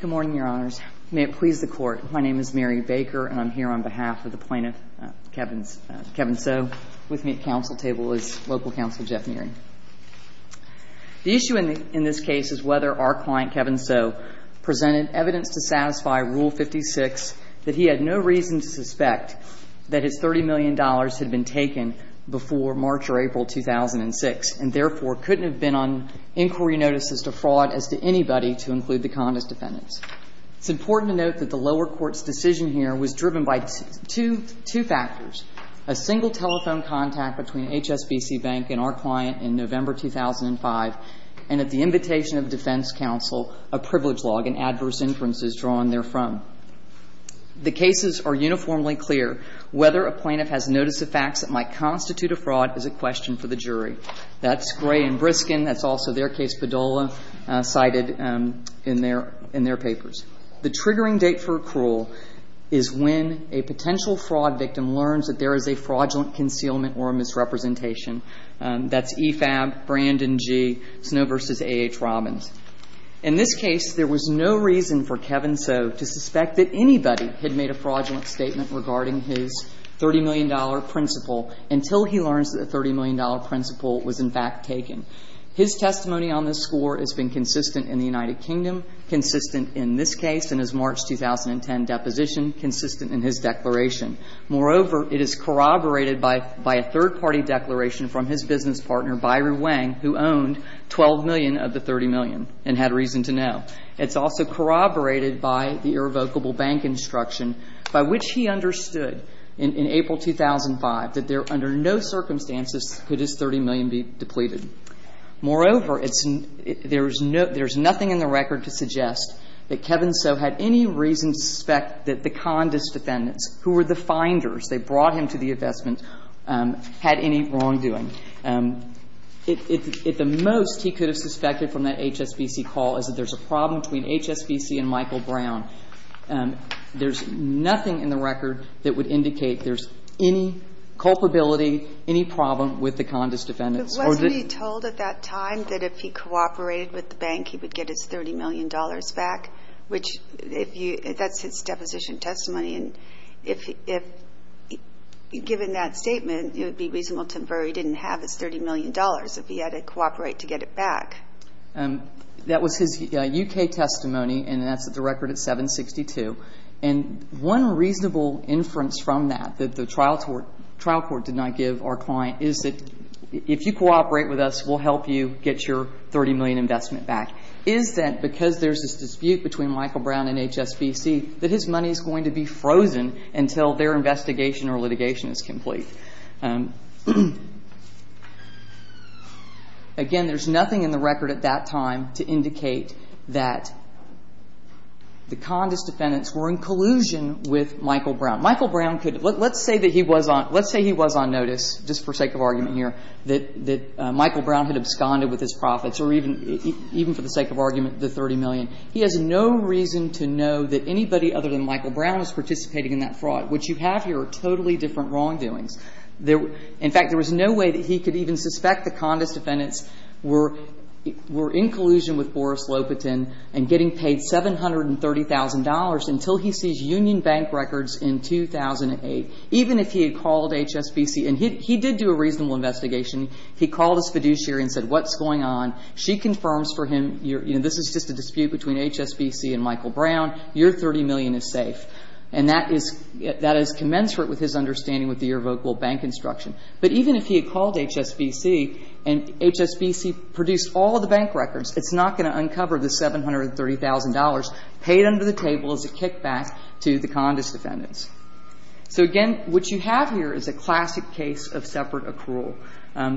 Good morning, Your Honors. May it please the Court, my name is Mary Baker, and I'm here on behalf of the plaintiff, Kevin So. With me at counsel table is local counsel Jeff Neary. The issue in this case is whether our client, Kevin So, presented evidence to satisfy Rule 56 that he had no reason to suspect that his $30 million had been taken before March or April 2006 and therefore couldn't have been on inquiry notices to fraud as to anybody to include the Kondas defendants. It's important to note that the lower court's decision here was driven by two factors, a single telephone contact between HSBC Bank and our client in November 2005, and at the invitation of defense counsel, a privilege log and adverse inferences drawn therefrom. The cases are uniformly clear. Whether a plaintiff has notice of facts that might constitute a fraud is a question for the jury. That's Gray and Briskin. That's also their case, Padola, cited in their papers. The triggering date for accrual is when a potential fraud victim learns that there is a fraudulent concealment or a misrepresentation. That's EFAB, Brandon G., Snow v. A.H. Robbins. In this case, there was no reason for Kevin So to suspect that anybody had made a fraudulent statement regarding his $30 million principle until he learns that a $30 million principle was in fact taken. His testimony on this score has been consistent in the United Kingdom, consistent in this case, and his March 2010 deposition consistent in his declaration. Moreover, it is corroborated by a third party declaration from his business partner, Byron Wang, who owned $12 million of the $30 million and had reason to know. It's also corroborated by the irrevocable bank instruction by which he understood in April 2005 that there, under no circumstances, could his $30 million be depleted. Moreover, there's nothing in the record to suggest that Kevin So had any reason to suspect that the condis defendants, who were the finders, they brought him to the hearing. At the most, he could have suspected from that HSBC call is that there's a problem between HSBC and Michael Brown. There's nothing in the record that would indicate there's any culpability, any problem with the condis defendants. It wasn't he told at that time that if he cooperated with the bank, he would get his $30 million back, which if you – that's his deposition testimony. And if, given that statement, it would be reasonable to infer he didn't have his $30 million if he had to cooperate to get it back. That was his U.K. testimony, and that's at the record at 762. And one reasonable inference from that that the trial court did not give our client is that if you cooperate with us, we'll help you get your $30 million investment back. Is that because there's this dispute between Michael Brown and HSBC that his money is going to be frozen until their investigation or litigation is complete? Again, there's nothing in the record at that time to indicate that the condis defendants were in collusion with Michael Brown. Michael Brown could – let's say that he was on – let's say he was on notice, just for sake of argument here, that Michael Brown had absconded with his profits or even for the sake of argument, the $30 million. He has no reason to know that anybody other than Michael Brown is participating in that fraud, which you have here are totally different wrongdoings. In fact, there was no way that he could even suspect the condis defendants were in collusion with Boris Lopatin and getting paid $730,000 until he sees Union Bank records in 2008, even if he had called HSBC. And he did do a reasonable investigation. He called his fiduciary and said, what's going on? She confirms for him, you know, this is just a dispute between HSBC and Michael Brown, your $30 million is safe. And that is commensurate with his understanding with the irrevocable bank instruction. But even if he had called HSBC and HSBC produced all the bank records, it's not going to uncover the $730,000 paid under the table as a kickback to the condis defendants. So, again, what you have here is a classic case of separate accrual.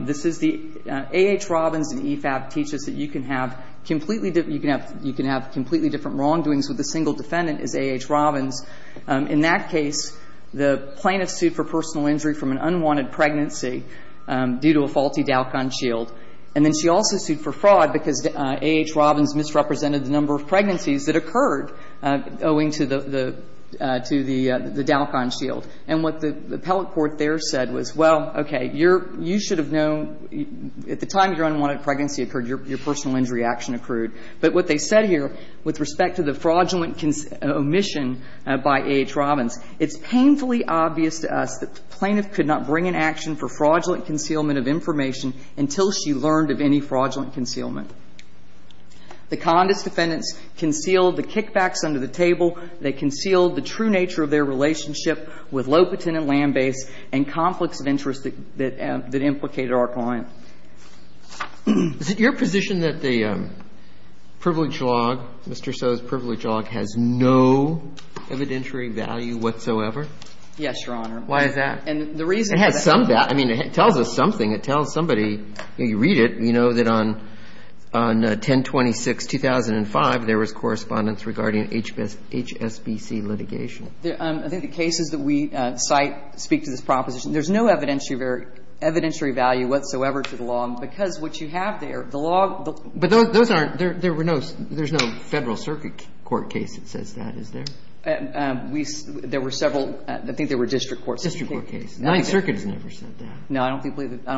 This is the AH Robbins and EFAB teaches that you can have completely different wrongdoings with a single defendant as AH Robbins. In that case, the plaintiff sued for personal injury from an unwanted pregnancy due to a faulty Dalkon shield. And then she also sued for fraud because AH Robbins misrepresented the number of pregnancies that occurred owing to the Dalkon shield. And what the appellate court there said was, well, okay, you should have known at the time your unwanted pregnancy occurred, your personal injury action accrued. But what they said here with respect to the fraudulent omission by AH Robbins, it's painfully obvious to us that the plaintiff could not bring an action for fraudulent concealment of information until she learned of any fraudulent concealment. The condis defendants concealed the kickbacks under the table. They concealed the true nature of their relationship with low-patent and land-based and conflicts of interest that implicated our client. Is it your position that the privilege log, Mr. So's privilege log, has no evidentiary value whatsoever? Yes, Your Honor. Why is that? And the reason for that. It has some value. I mean, it tells us something. It tells somebody, you read it, you know that on 10-26-2005, there was correspondence regarding HSBC litigation. I think the cases that we cite speak to this proposition. There's no evidentiary value whatsoever to the law. Because what you have there, the law. But those aren't, there were no, there's no Federal Circuit court case that says that, is there? There were several. I think there were district courts. District court case. The Ninth Circuit has never said that. No, I don't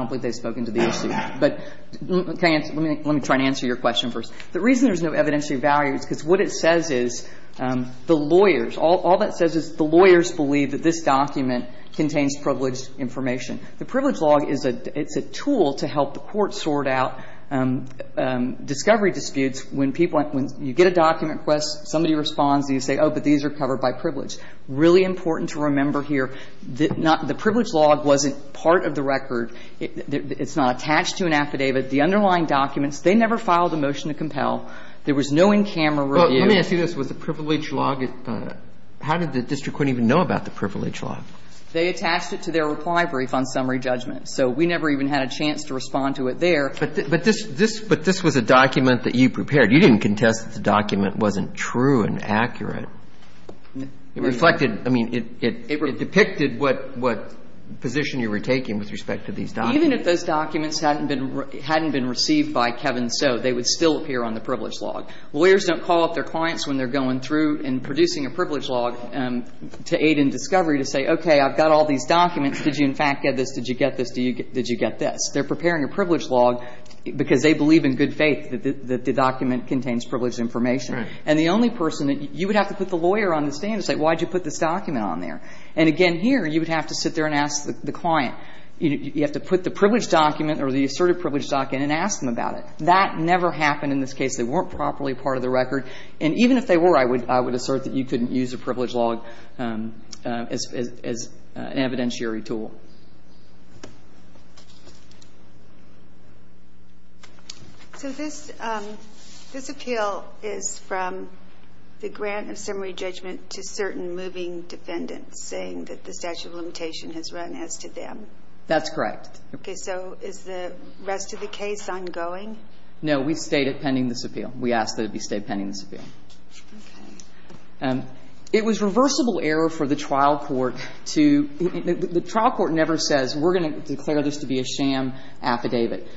believe they've spoken to the issue. But let me try and answer your question first. The reason there's no evidentiary value is because what it says is the lawyers, all that says is the lawyers believe that this document contains privileged information. The privilege log is a, it's a tool to help the court sort out discovery disputes when people, when you get a document request, somebody responds and you say, oh, but these are covered by privilege. Really important to remember here, the privilege log wasn't part of the record. It's not attached to an affidavit. The underlying documents, they never filed a motion to compel. There was no in-camera review. Well, let me ask you this. Was the privilege log, how did the district court even know about the privilege log? They attached it to their reply brief on summary judgment. So we never even had a chance to respond to it there. But this, this, but this was a document that you prepared. You didn't contest that the document wasn't true and accurate. It reflected, I mean, it, it, it depicted what, what position you were taking with respect to these documents. And even if those documents hadn't been, hadn't been received by Kevin Soe, they would still appear on the privilege log. Lawyers don't call up their clients when they're going through and producing a privilege log to aid in discovery to say, okay, I've got all these documents. Did you, in fact, get this? Did you get this? Did you get this? They're preparing a privilege log because they believe in good faith that the, that the document contains privileged information. And the only person that you would have to put the lawyer on the stand and say, why did you put this document on there? And again, here, you would have to sit there and ask the client. You have to put the privilege document or the asserted privilege document and ask them about it. That never happened in this case. They weren't properly part of the record. And even if they were, I would, I would assert that you couldn't use a privilege log as, as, as an evidentiary tool. So this, this appeal is from the grant of summary judgment to certain moving defendants. And I'm not saying that the statute of limitation has run as to them. That's correct. Okay. So is the rest of the case ongoing? No. We've stayed at pending this appeal. We asked that it be stayed pending this appeal. Okay. It was reversible error for the trial court to, the trial court never says we're going to declare this to be a sham affidavit.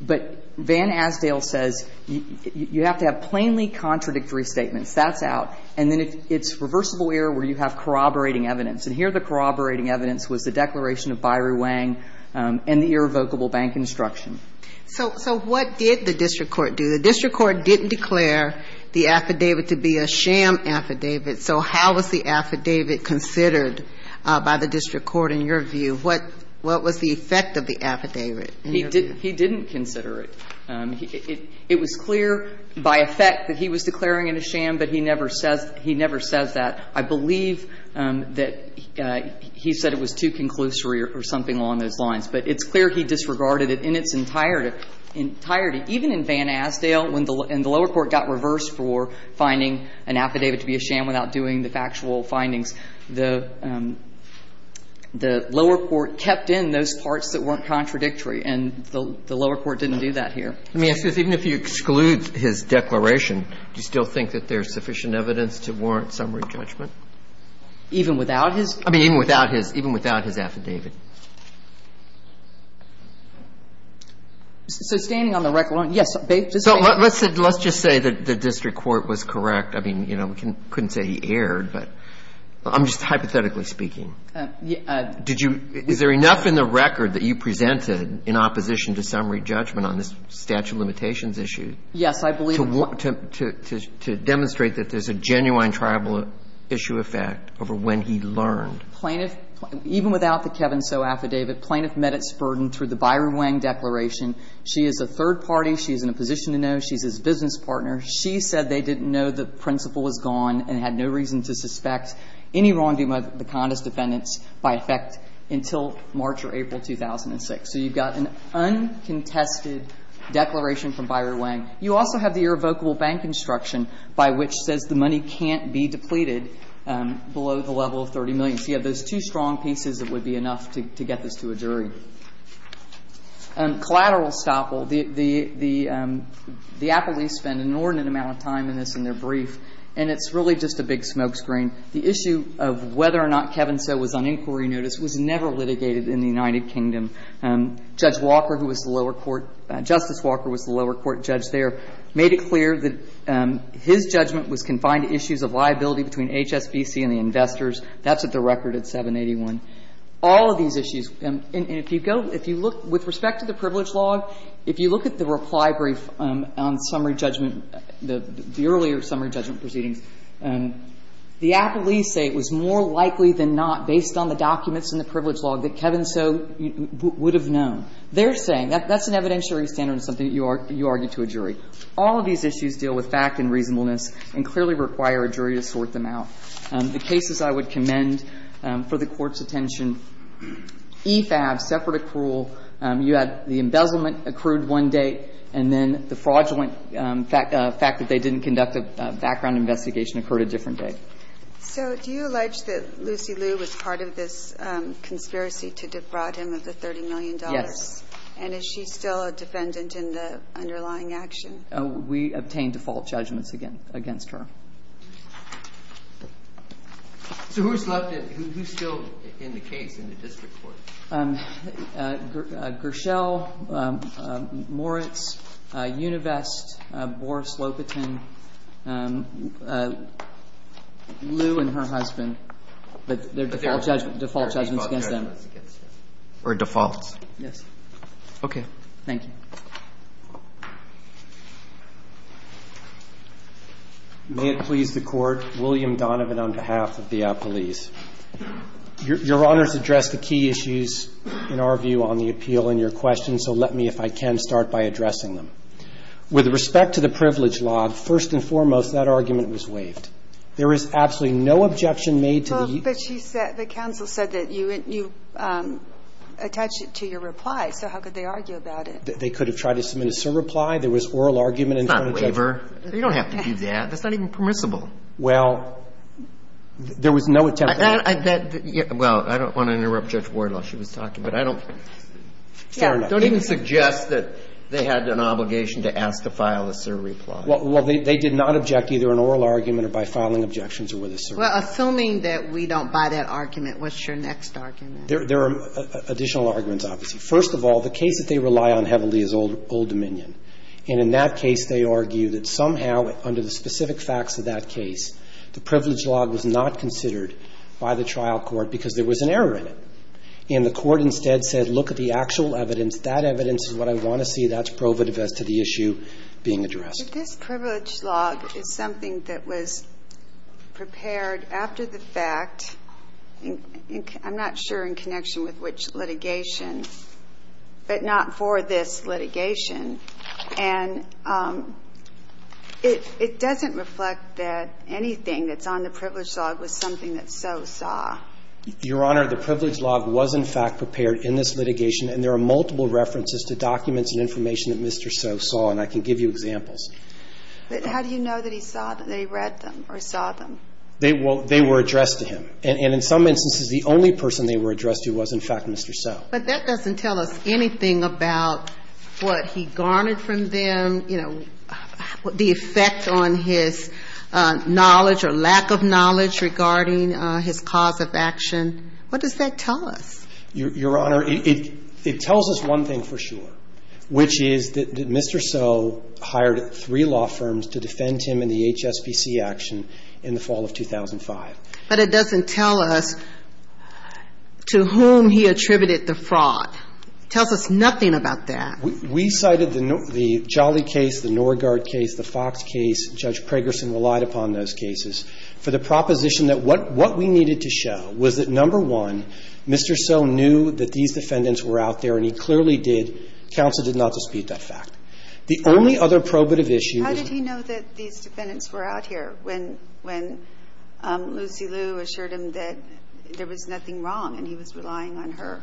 But Van Asdale says you have to have plainly contradictory statements. That's out. And then it's reversible error where you have corroborating evidence. And here the corroborating evidence was the declaration of Bayrou Wang and the irrevocable bank instruction. So, so what did the district court do? The district court didn't declare the affidavit to be a sham affidavit. So how was the affidavit considered by the district court in your view? What, what was the effect of the affidavit? He didn't, he didn't consider it. It was clear by effect that he was declaring it a sham, but he never says, he never says that. I believe that he said it was too conclusory or something along those lines. But it's clear he disregarded it in its entirety. Even in Van Asdale, when the lower court got reversed for finding an affidavit to be a sham without doing the factual findings, the lower court kept in those parts that weren't contradictory. And the lower court didn't do that here. Let me ask you this. Even if you exclude his declaration, do you still think that there's sufficient evidence to warrant summary judgment? Even without his? I mean, even without his, even without his affidavit. So standing on the record, yes. So let's just say that the district court was correct. I mean, you know, we couldn't say he erred, but I'm just hypothetically speaking. Did you, is there enough in the record that you presented in opposition to summary judgment on this statute of limitations issue to demonstrate that there's a genuine tribal issue effect over when he learned? Plaintiff, even without the Kevin Soe affidavit, Plaintiff met its burden through the Byron Wang declaration. She is a third party. She is in a position to know. She's his business partner. She said they didn't know the principal was gone and had no reason to suspect any wrongdoing by the condis defendants by effect until March or April 2006. So you've got an uncontested declaration from Byron Wang. You also have the irrevocable bank instruction by which says the money can't be depleted below the level of 30 million. So you have those two strong pieces that would be enough to get this to a jury. Collateral estoppel. The appellees spend an inordinate amount of time in this in their brief, and it's really just a big smoke screen. The issue of whether or not Kevin Soe was on inquiry notice was never litigated in the United Kingdom. Judge Walker, who was the lower court, Justice Walker was the lower court judge there, made it clear that his judgment was confined to issues of liability between HSBC and the investors. That's at the record at 781. All of these issues, and if you go, if you look, with respect to the privilege log, if you look at the reply brief on summary judgment, the earlier summary judgment proceedings, the appellees say it was more likely than not, based on the documents in the privilege log, that Kevin Soe would have known. They're saying that's an evidentiary standard of something that you argue to a jury. All of these issues deal with fact and reasonableness and clearly require a jury to sort them out. The cases I would commend for the Court's attention, e-FAB, separate accrual. You had the embezzlement accrued one day, and then the fraudulent fact that they didn't conduct a background investigation occurred a different day. So do you allege that Lucy Liu was part of this conspiracy to defraud him of the $30 million? Yes. And is she still a defendant in the underlying action? We obtained default judgments against her. So who's left? Who's still in the case in the district court? Gershell, Moritz, Univest, Boris Lopatin, Liu and her husband. But their default judgments against them. Or defaults. Yes. Okay. Thank you. May it please the Court, William Donovan on behalf of the appellees. Your Honor's addressed the key issues in our view on the appeal and your questions, so let me, if I can, start by addressing them. With respect to the privilege log, first and foremost, that argument was waived. There is absolutely no objection made to the ---- Well, but she said the counsel said that you attached it to your reply, so how could they argue about it? They could have tried to submit a surreply. There was oral argument in front of the judge. It's not waiver. You don't have to do that. That's not even permissible. Well, there was no attempt to ---- Well, I don't want to interrupt Judge Ward while she was talking, but I don't ---- Fair enough. Don't even suggest that they had an obligation to ask to file a surreply. Well, they did not object either in oral argument or by filing objections or with a surreply. Well, assuming that we don't buy that argument, what's your next argument? There are additional arguments, obviously. First of all, the case that they rely on heavily is Old Dominion. And in that case, they argue that somehow under the specific facts of that case, the privilege log was not considered by the trial court because there was an error in it. And the court instead said, look at the actual evidence. That evidence is what I want to see. That's provative as to the issue being addressed. But this privilege log is something that was prepared after the fact. I'm not sure in connection with which litigation, but not for this litigation. And it doesn't reflect that anything that's on the privilege log was something that Soe saw. Your Honor, the privilege log was, in fact, prepared in this litigation. And there are multiple references to documents and information that Mr. Soe saw, and I can give you examples. But how do you know that he saw them, that he read them or saw them? They were addressed to him. And in some instances, the only person they were addressed to was, in fact, Mr. Soe. But that doesn't tell us anything about what he garnered from them, you know, the effect on his knowledge or lack of knowledge regarding his cause of action. What does that tell us? Your Honor, it tells us one thing for sure, which is that Mr. Soe hired three law firms to defend him in the HSBC action in the fall of 2005. But it doesn't tell us to whom he attributed the fraud. It tells us nothing about that. We cited the Jolly case, the Norgaard case, the Fox case. Judge Pragerson relied upon those cases for the proposition that what we needed to show was that, number one, Mr. Soe knew that these defendants were out there, and he clearly did. Counsel did not dispute that fact. The only other probative issue is that he knew that these defendants were out here when Lucy Liu assured him that there was nothing wrong and he was relying on her.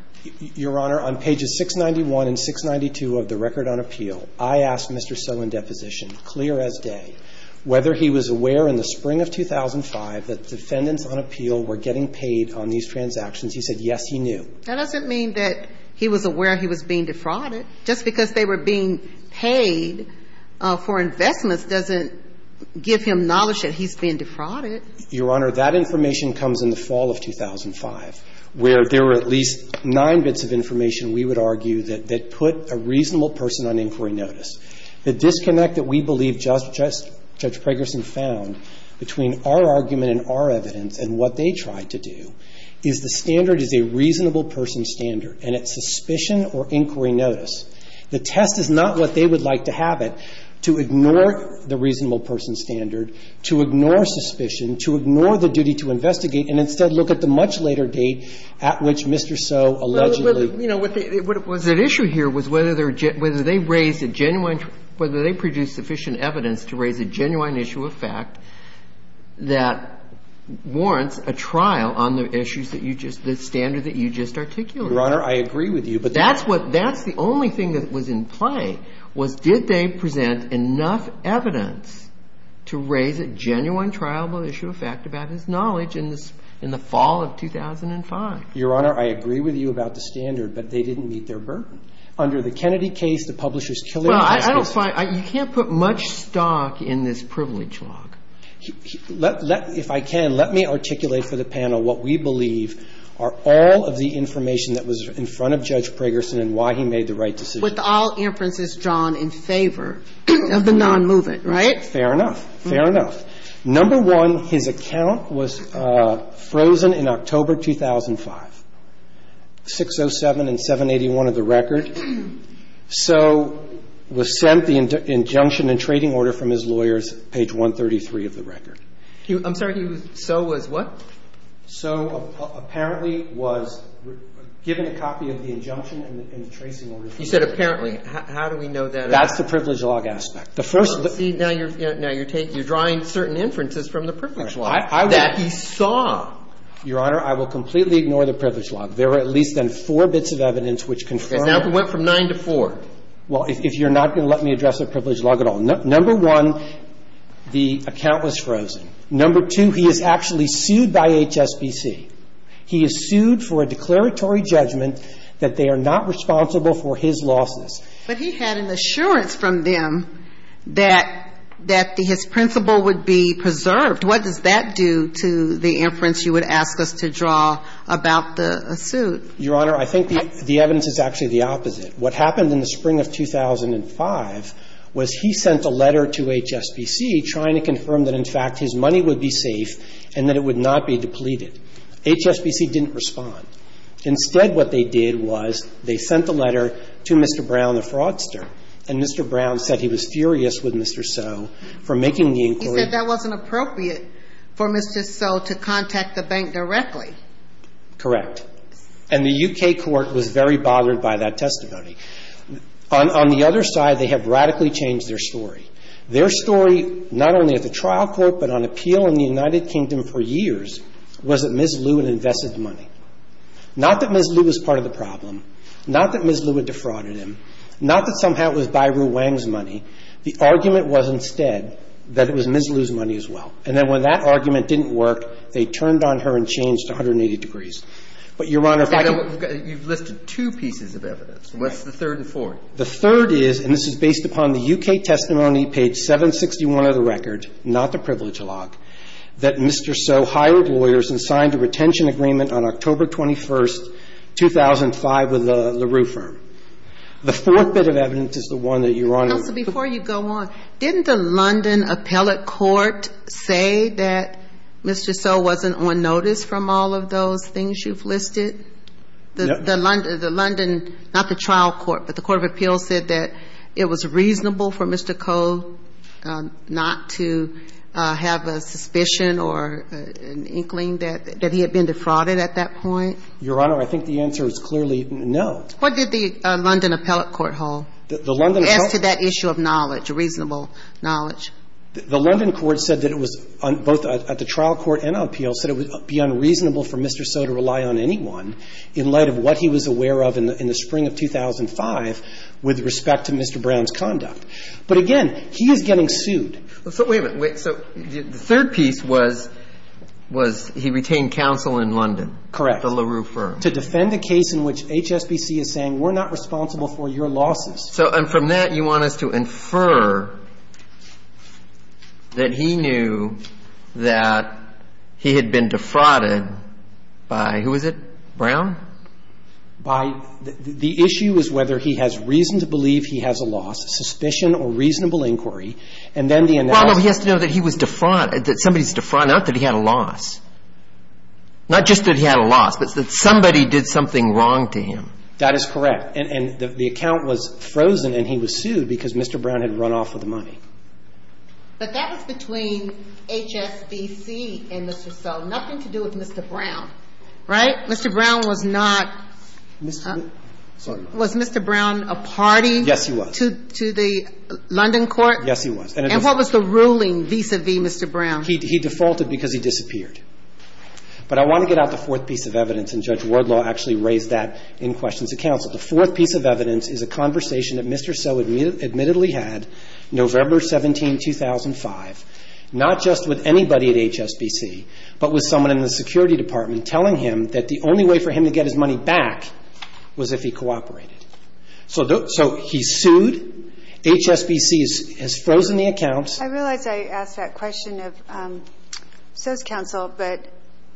Your Honor, on pages 691 and 692 of the record on appeal, I asked Mr. Soe in deposition, clear as day, whether he was aware in the spring of 2005 that defendants on appeal were getting paid on these transactions. He said, yes, he knew. That doesn't mean that he was aware he was being defrauded. Just because they were being paid for investments doesn't give him knowledge that he's being defrauded. Your Honor, that information comes in the fall of 2005, where there were at least nine bits of information, we would argue, that put a reasonable person on inquiry notice. The disconnect that we believe Judge Pragerson found between our argument and our evidence and what they tried to do is the standard is a reasonable person standard and it's suspicion or inquiry notice. The test is not what they would like to have it, to ignore the reasonable person standard, to ignore suspicion, to ignore the duty to investigate, and instead look at the much later date at which Mr. Soe allegedly. Well, you know, what was at issue here was whether they raised a genuine, whether they produced sufficient evidence to raise a genuine issue of fact that warrants a trial on the issues that you just, the standard that you just articulated. Your Honor, I agree with you. But that's what, that's the only thing that was in play was did they present enough evidence to raise a genuine trial of issue of fact about his knowledge in the fall of 2005. Your Honor, I agree with you about the standard, but they didn't meet their burden. Under the Kennedy case, the publisher's killing justice. Well, I don't find, you can't put much stock in this privilege log. If I can, let me articulate for the panel what we believe are all of the information that was in front of Judge Pragerson and why he made the right decision. With all inferences drawn in favor of the nonmovement, right? Fair enough. Fair enough. Number one, his account was frozen in October 2005. 607 and 781 of the record. So was sent the injunction and trading order from his lawyers, page 133 of the record. I'm sorry. He was, so was what? So apparently was given a copy of the injunction and the tracing order. You said apparently. How do we know that? That's the privilege log aspect. The first. See, now you're, now you're taking, you're drawing certain inferences from the privilege log that he saw. Your Honor, I will completely ignore the privilege log. There are at least then four bits of evidence which confirm. Because that went from nine to four. Well, if you're not going to let me address the privilege log at all. Number one, the account was frozen. Number two, he is actually sued by HSBC. He is sued for a declaratory judgment that they are not responsible for his losses. But he had an assurance from them that, that his principle would be preserved. What does that do to the inference you would ask us to draw about the suit? Your Honor, I think the evidence is actually the opposite. What happened in the spring of 2005 was he sent a letter to HSBC trying to confirm that, in fact, his money would be safe and that it would not be depleted. HSBC didn't respond. Instead, what they did was they sent the letter to Mr. Brown, the fraudster, and Mr. Brown said he was furious with Mr. So for making the inquiry. He said that wasn't appropriate for Mr. So to contact the bank directly. Correct. And the U.K. court was very bothered by that testimony. On the other side, they have radically changed their story. Their story, not only at the trial court, but on appeal in the United Kingdom for years, was that Ms. Lew had invested money. Not that Ms. Lew was part of the problem. Not that Ms. Lew had defrauded him. Not that somehow it was Bayrou Wang's money. The argument was, instead, that it was Ms. Lew's money as well. And then when that argument didn't work, they turned on her and changed 180 degrees. But, Your Honor, if I could go back to that. You've listed two pieces of evidence. What's the third and fourth? The third is, and this is based upon the U.K. testimony, page 761 of the record, not the privilege log, that Mr. So hired lawyers and signed a retention agreement on October 21st, 2005, with the LaRue firm. The fourth bit of evidence is the one that Your Honor is referring to. So before you go on, didn't the London appellate court say that Mr. So wasn't on notice from all of those things you've listed? No. The London, not the trial court, but the court of appeals said that it was reasonable for Mr. Koh not to have a suspicion or an inkling that he had been defrauded at that point? Your Honor, I think the answer is clearly no. What did the London appellate court hold? As to that issue of knowledge, reasonable knowledge. The London court said that it was, both at the trial court and on appeals, said it would be unreasonable for Mr. So to rely on anyone in light of what he was aware of in the spring of 2005 with respect to Mr. Brown's conduct. But again, he is getting sued. So wait a minute. So the third piece was, was he retained counsel in London? Correct. The LaRue firm. I'm sorry. The LaRue firm. The LaRue firm. To defend a case in which HSBC is saying we're not responsible for your losses. So and from that, you want us to infer that he knew that he had been defrauded by who is it? Brown? By the issue is whether he has reason to believe he has a loss, suspicion or reasonable inquiry. And then the analysis. Well, no. He has to know that he was defrauded, that somebody's defrauded. Not that he had a loss. Not just that he had a loss, but that somebody did something wrong to him. That is correct. And the account was frozen and he was sued because Mr. Brown had run off with the money. But that was between HSBC and Mr. So. Nothing to do with Mr. Brown. Right? Mr. Brown was not. Sorry. Was Mr. Brown a party? Yes, he was. To the London court? Yes, he was. And what was the ruling vis-à-vis Mr. Brown? He defaulted because he disappeared. But I want to get out the fourth piece of evidence, and Judge Wardlaw actually raised that in questions of counsel. The fourth piece of evidence is a conversation that Mr. So admittedly had November 17, 2005, not just with anybody at HSBC, but with someone in the security department telling him that the only way for him to get his money back was if he cooperated. So he sued. HSBC has frozen the account. I realize I asked that question of So's counsel, but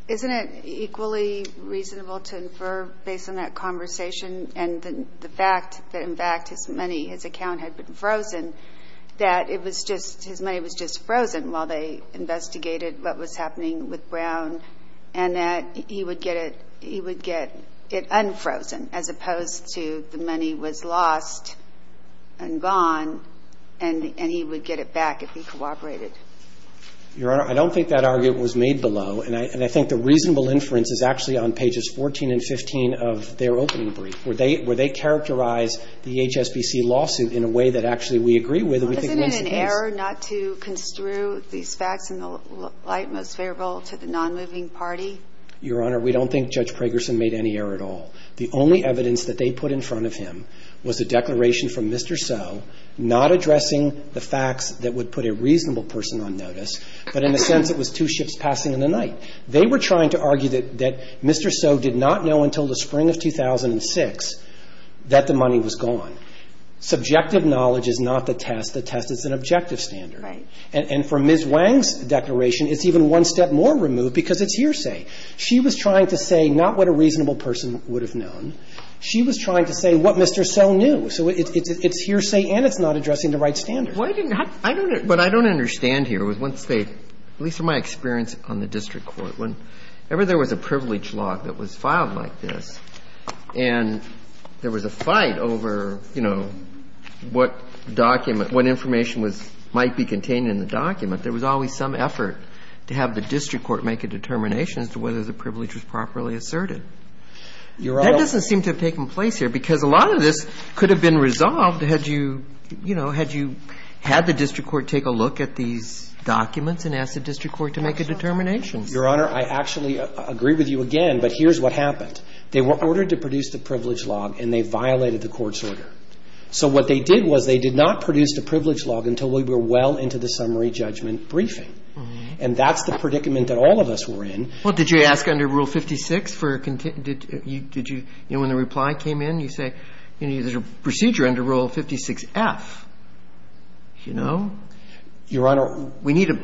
isn't it equally reasonable to infer, based on that conversation and the fact that, in fact, his money, his account had been frozen, that it was just his money was just frozen while they investigated what was happening with Brown and that he would get it unfrozen as opposed to the money was lost and gone and he would get it back if he cooperated? Your Honor, I don't think that argument was made below. And I think the reasonable inference is actually on pages 14 and 15 of their opening brief, where they characterize the HSBC lawsuit in a way that actually we agree with. Isn't it an error not to construe these facts in the light most favorable to the nonmoving party? Your Honor, we don't think Judge Pragerson made any error at all. The only evidence that they put in front of him was a declaration from Mr. So, not addressing the facts that would put a reasonable person on notice, but in a sense it was two ships passing in the night. They were trying to argue that Mr. So did not know until the spring of 2006 that the money was gone. Subjective knowledge is not the test. The test is an objective standard. Right. And for Ms. Wang's declaration, it's even one step more removed because it's hearsay. She was trying to say not what a reasonable person would have known. She was trying to say what Mr. So knew. So it's hearsay and it's not addressing the right standard. Why didn't you have to? I don't know. What I don't understand here was once they, at least from my experience on the district court, whenever there was a privilege law that was filed like this and there was a fight over, you know, what document, what information was, might be contained in the document, there was always some effort to have the district court make a determination as to whether the privilege was properly asserted. Your Honor. That doesn't seem to have taken place here because a lot of this could have been resolved had you, you know, had you had the district court take a look at these documents and ask the district court to make a determination. Your Honor, I actually agree with you again, but here's what happened. They were ordered to produce the privilege log and they violated the court's order. So what they did was they did not produce the privilege log until we were well into the summary judgment briefing. And that's the predicament that all of us were in. Well, did you ask under Rule 56 for, did you, you know, when the reply came in, you say, you know, there's a procedure under Rule 56F, you know? Your Honor. We need to,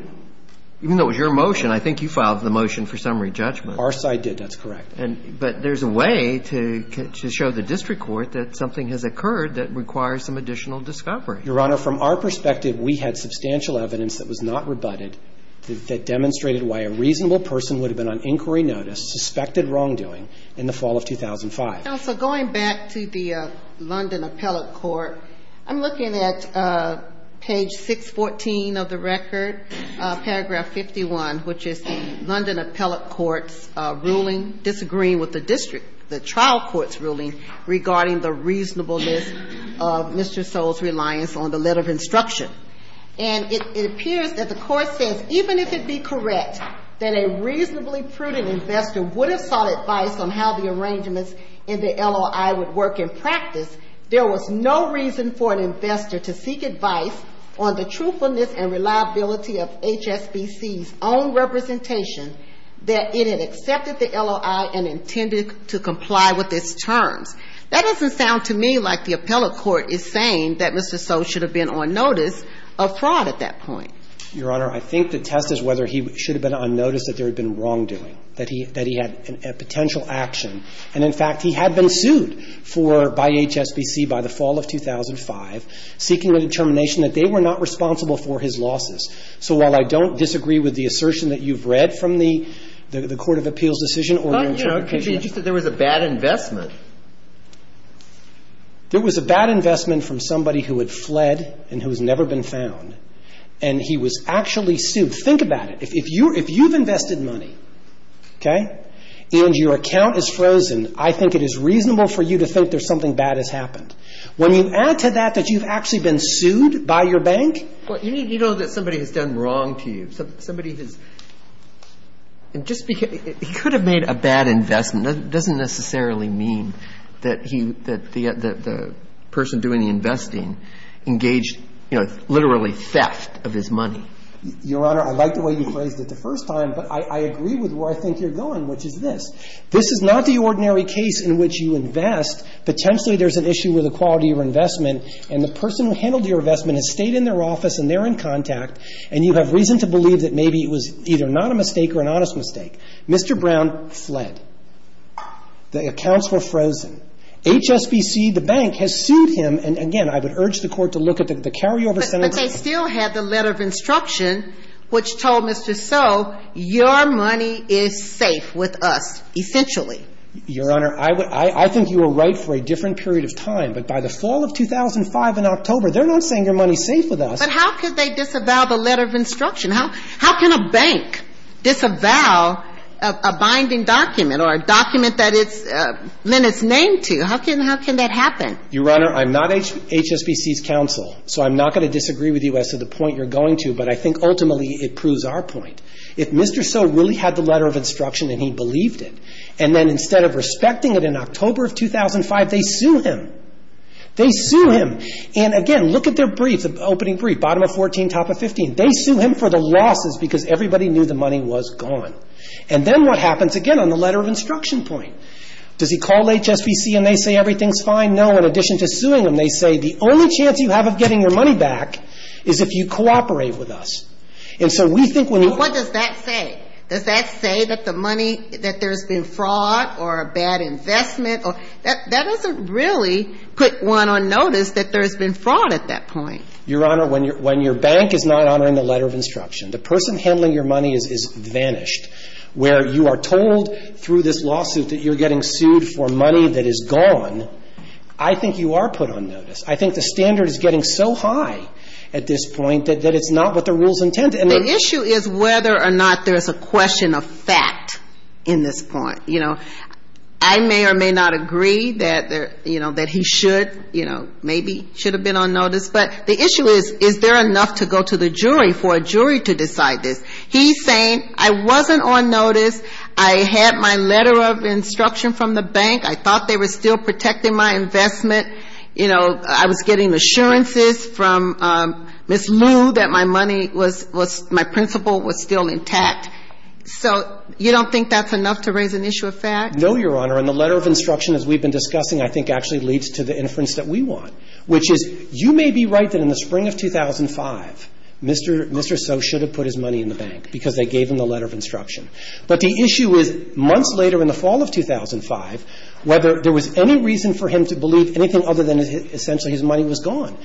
even though it was your motion, I think you filed the motion for summary judgment. Our side did. That's correct. But there's a way to show the district court that something has occurred that requires some additional discovery. Your Honor, from our perspective, we had substantial evidence that was not rebutted that demonstrated why a reasonable person would have been on inquiry notice, suspected wrongdoing, in the fall of 2005. Counsel, going back to the London Appellate Court, I'm looking at page 614 of the record, paragraph 51, which is the London Appellate Court's ruling, disagreeing with the district, the trial court's ruling regarding the reasonableness of Mr. O's reliance on the letter of instruction. And it appears that the court says, even if it be correct that a reasonably prudent investor would have sought advice on how the arrangements in the LOI would work in practice, there was no reason for an investor to seek advice on the truthfulness and reliability of HSBC's own representation that it had accepted the LOI and intended to comply with its terms. That doesn't sound to me like the appellate court is saying that Mr. So should have been on notice of fraud at that point. Your Honor, I think the test is whether he should have been on notice that there had been wrongdoing, that he had a potential action. And, in fact, he had been sued for by HSBC by the fall of 2005, seeking a determination that they were not responsible for his losses. So while I don't disagree with the assertion that you've read from the court of appeals decision or your interpretation of the case. But, you know, it could be just that there was a bad investment. There was a bad investment from somebody who had fled and who has never been found. And he was actually sued. Think about it. If you've invested money, okay, and your account is frozen, I think it is reasonable for you to think that something bad has happened. When you add to that that you've actually been sued by your bank. Well, you know that somebody has done wrong to you. Somebody has. And just because he could have made a bad investment doesn't necessarily mean that he, that the person doing the investing engaged, you know, literally theft of his money. Your Honor, I like the way you phrased it the first time. But I agree with where I think you're going, which is this. This is not the ordinary case in which you invest. Potentially there's an issue with the quality of your investment. And the person who handled your investment has stayed in their office and they're in contact. And you have reason to believe that maybe it was either not a mistake or an honest mistake. Mr. Brown fled. The accounts were frozen. HSBC, the bank, has sued him. And, again, I would urge the Court to look at the carryover sentence. But they still had the letter of instruction which told Mr. So your money is safe with us, essentially. Your Honor, I think you were right for a different period of time. But by the fall of 2005 in October, they're not saying your money is safe with us. But how could they disavow the letter of instruction? How can a bank disavow a binding document or a document that it's been named to? How can that happen? Your Honor, I'm not HSBC's counsel. So I'm not going to disagree with you as to the point you're going to. But I think ultimately it proves our point. If Mr. So really had the letter of instruction and he believed it, and then instead of respecting it in October of 2005, they sue him. They sue him. And, again, look at their brief, the opening brief, bottom of 14, top of 15. They sue him for the losses because everybody knew the money was gone. And then what happens, again, on the letter of instruction point? Does he call HSBC and they say everything's fine? No. In addition to suing him, they say the only chance you have of getting your money back is if you cooperate with us. And so we think when you ---- But what does that say? Does that say that the money, that there's been fraud or a bad investment? That doesn't really put one on notice that there's been fraud at that point. Your Honor, when your bank is not honoring the letter of instruction, the person handling your money is vanished. Where you are told through this lawsuit that you're getting sued for money that is gone, I think you are put on notice. I think the standard is getting so high at this point that it's not what the rules intend. The issue is whether or not there's a question of fact in this point. I may or may not agree that he should, you know, maybe should have been on notice. But the issue is, is there enough to go to the jury for a jury to decide this? He's saying, I wasn't on notice. I had my letter of instruction from the bank. I thought they were still protecting my investment. You know, I was getting assurances from Ms. Lu that my money was, my principal was still intact. So you don't think that's enough to raise an issue of fact? No, Your Honor. And the letter of instruction, as we've been discussing, I think actually leads to the inference that we want, which is, you may be right that in the spring of 2005, Mr. So should have put his money in the bank because they gave him the letter of instruction. But the issue is, months later in the fall of 2005, whether there was any reason for him to believe anything other than essentially his money was gone.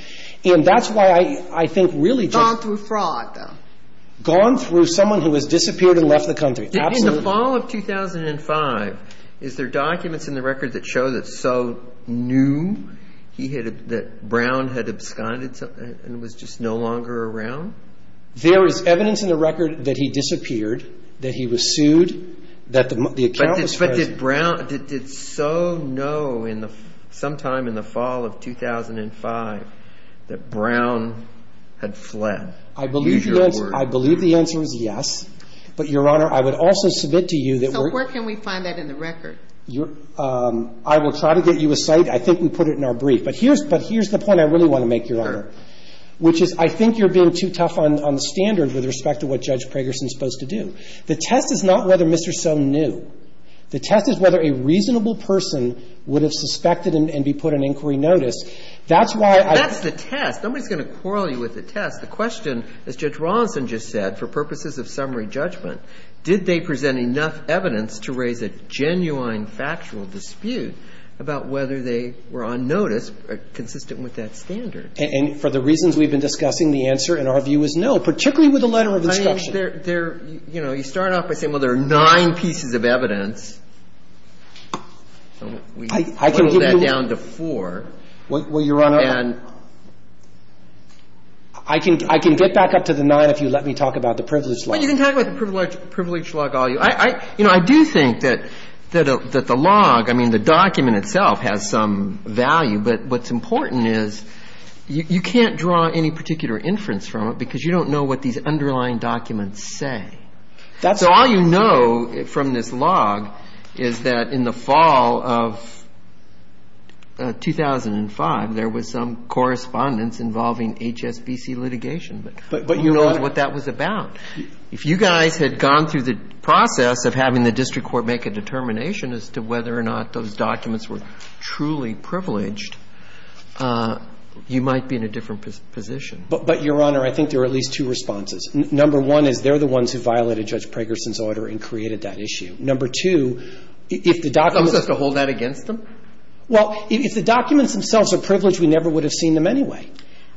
And that's why I think really just – Gone through fraud, though. Gone through someone who has disappeared and left the country. Absolutely. In the fall of 2005, is there documents in the record that show that So knew that Brown had absconded and was just no longer around? There is evidence in the record that he disappeared, that he was sued, that the account was – But did So know sometime in the fall of 2005 that Brown had fled? I believe the answer is yes. But, Your Honor, I would also submit to you that we're – So where can we find that in the record? I will try to get you a site. I think we put it in our brief. But here's the point I really want to make, Your Honor, which is I think you're being too tough on the standard with respect to what Judge Pragerson is supposed to do. The test is not whether Mr. So knew. The test is whether a reasonable person would have suspected and be put on inquiry notice. That's why I – That's the test. Nobody's going to quarrel you with the test. The question, as Judge Rawson just said, for purposes of summary judgment, did they present enough evidence to raise a genuine factual dispute about whether they were on notice consistent with that standard? And for the reasons we've been discussing, the answer, in our view, is no, particularly with the letter of instruction. I mean, there – you know, you start off by saying, well, there are nine pieces of evidence. I can give you – So we pull that down to four. Well, Your Honor – And I can get back up to the nine if you let me talk about the privilege log. Well, you can talk about the privilege log all you want. You know, I do think that the log – I mean, the document itself has some value, but what's important is you can't draw any particular inference from it because you don't know what these underlying documents say. That's right. What we do know from this log is that in the fall of 2005, there was some correspondence involving HSBC litigation, but we don't know what that was about. But, Your Honor – If you guys had gone through the process of having the district court make a determination as to whether or not those documents were truly privileged, you might be in a different position. But, Your Honor, I think there are at least two responses. Number one is they're the ones who violated Judge Pragerson's order and created that issue. Number two, if the documents – So we're supposed to hold that against them? Well, if the documents themselves are privileged, we never would have seen them anyway.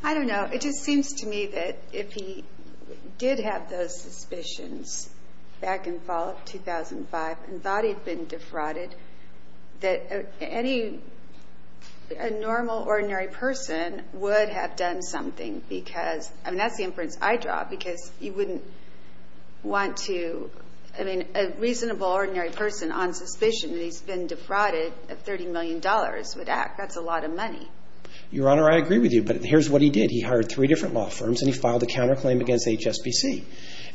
I don't know. It just seems to me that if he did have those suspicions back in the fall of 2005 and thought he'd been defrauded, that any – a normal, ordinary person would have done something because – I mean, that's the inference I draw, because you wouldn't want to – I mean, a reasonable, ordinary person on suspicion that he's been defrauded of $30 million would act. That's a lot of money. Your Honor, I agree with you, but here's what he did. He hired three different law firms and he filed a counterclaim against HSBC.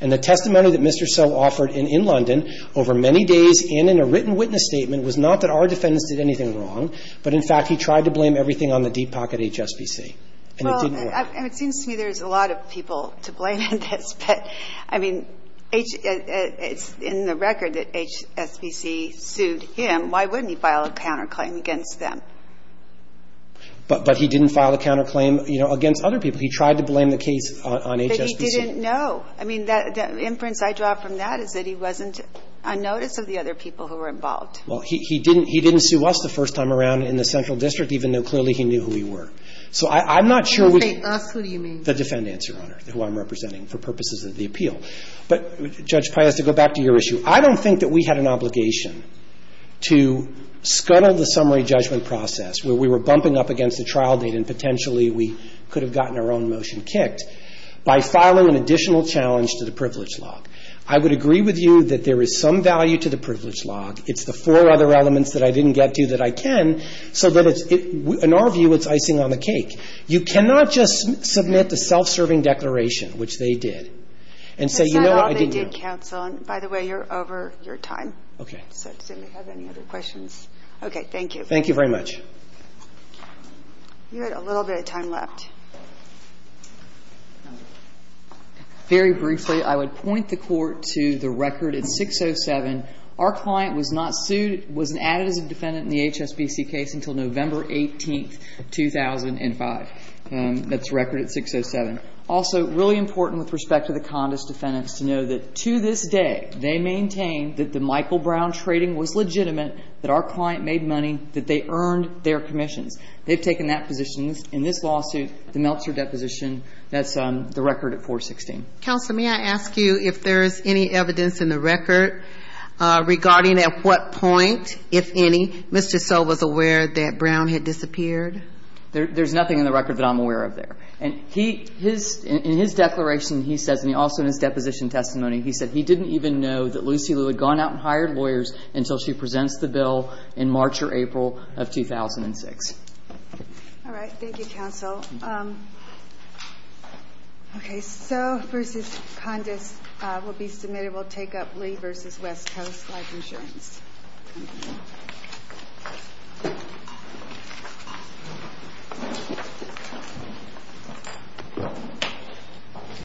And the testimony that Mr. Soe offered in London over many days and in a written witness statement was not that our defendants did anything wrong, but in fact, he tried to blame everything on the deep pocket HSBC. And it didn't work. Well, and it seems to me there's a lot of people to blame in this. But, I mean, it's in the record that HSBC sued him. Why wouldn't he file a counterclaim against them? But he didn't file a counterclaim, you know, against other people. He tried to blame the case on HSBC. But he didn't know. I mean, the inference I draw from that is that he wasn't on notice of the other people who were involved. Well, he didn't sue us the first time around in the Central District, even though clearly he knew who we were. So I'm not sure which of the defendants, Your Honor, who I'm representing for purposes of the appeal. But, Judge Pius, to go back to your issue, I don't think that we had an obligation to scuttle the summary judgment process where we were bumping up against the trial date and potentially we could have gotten our own motion kicked by filing an additional challenge to the privilege log. I would agree with you that there is some value to the privilege log. It's the four other elements that I didn't get to that I can. And so that it's – in our view, it's icing on the cake. You cannot just submit the self-serving declaration, which they did, and say, you know what, I didn't do it. That's not all they did, counsel. And by the way, you're over your time. Okay. So does anybody have any other questions? Okay. Thank you. Thank you very much. You had a little bit of time left. Very briefly, I would point the Court to the record at 607. Our client was not sued, was not added as a defendant in the HSBC case until November 18, 2005. That's record at 607. Also, really important with respect to the Condis defendants to know that to this day, they maintain that the Michael Brown trading was legitimate, that our client made money, that they earned their commissions. They've taken that position in this lawsuit, the Meltzer deposition. That's the record at 416. Counsel, may I ask you if there is any evidence in the record regarding at what point, if any, Mr. So was aware that Brown had disappeared? There's nothing in the record that I'm aware of there. And in his declaration, he says, and also in his deposition testimony, he said he didn't even know that Lucy Liu had gone out and hired lawyers until she presents the bill in March or April of 2006. All right. Thank you, counsel. Okay. So versus Condis will be submitted. We'll take up Lee versus West Coast Life Insurance.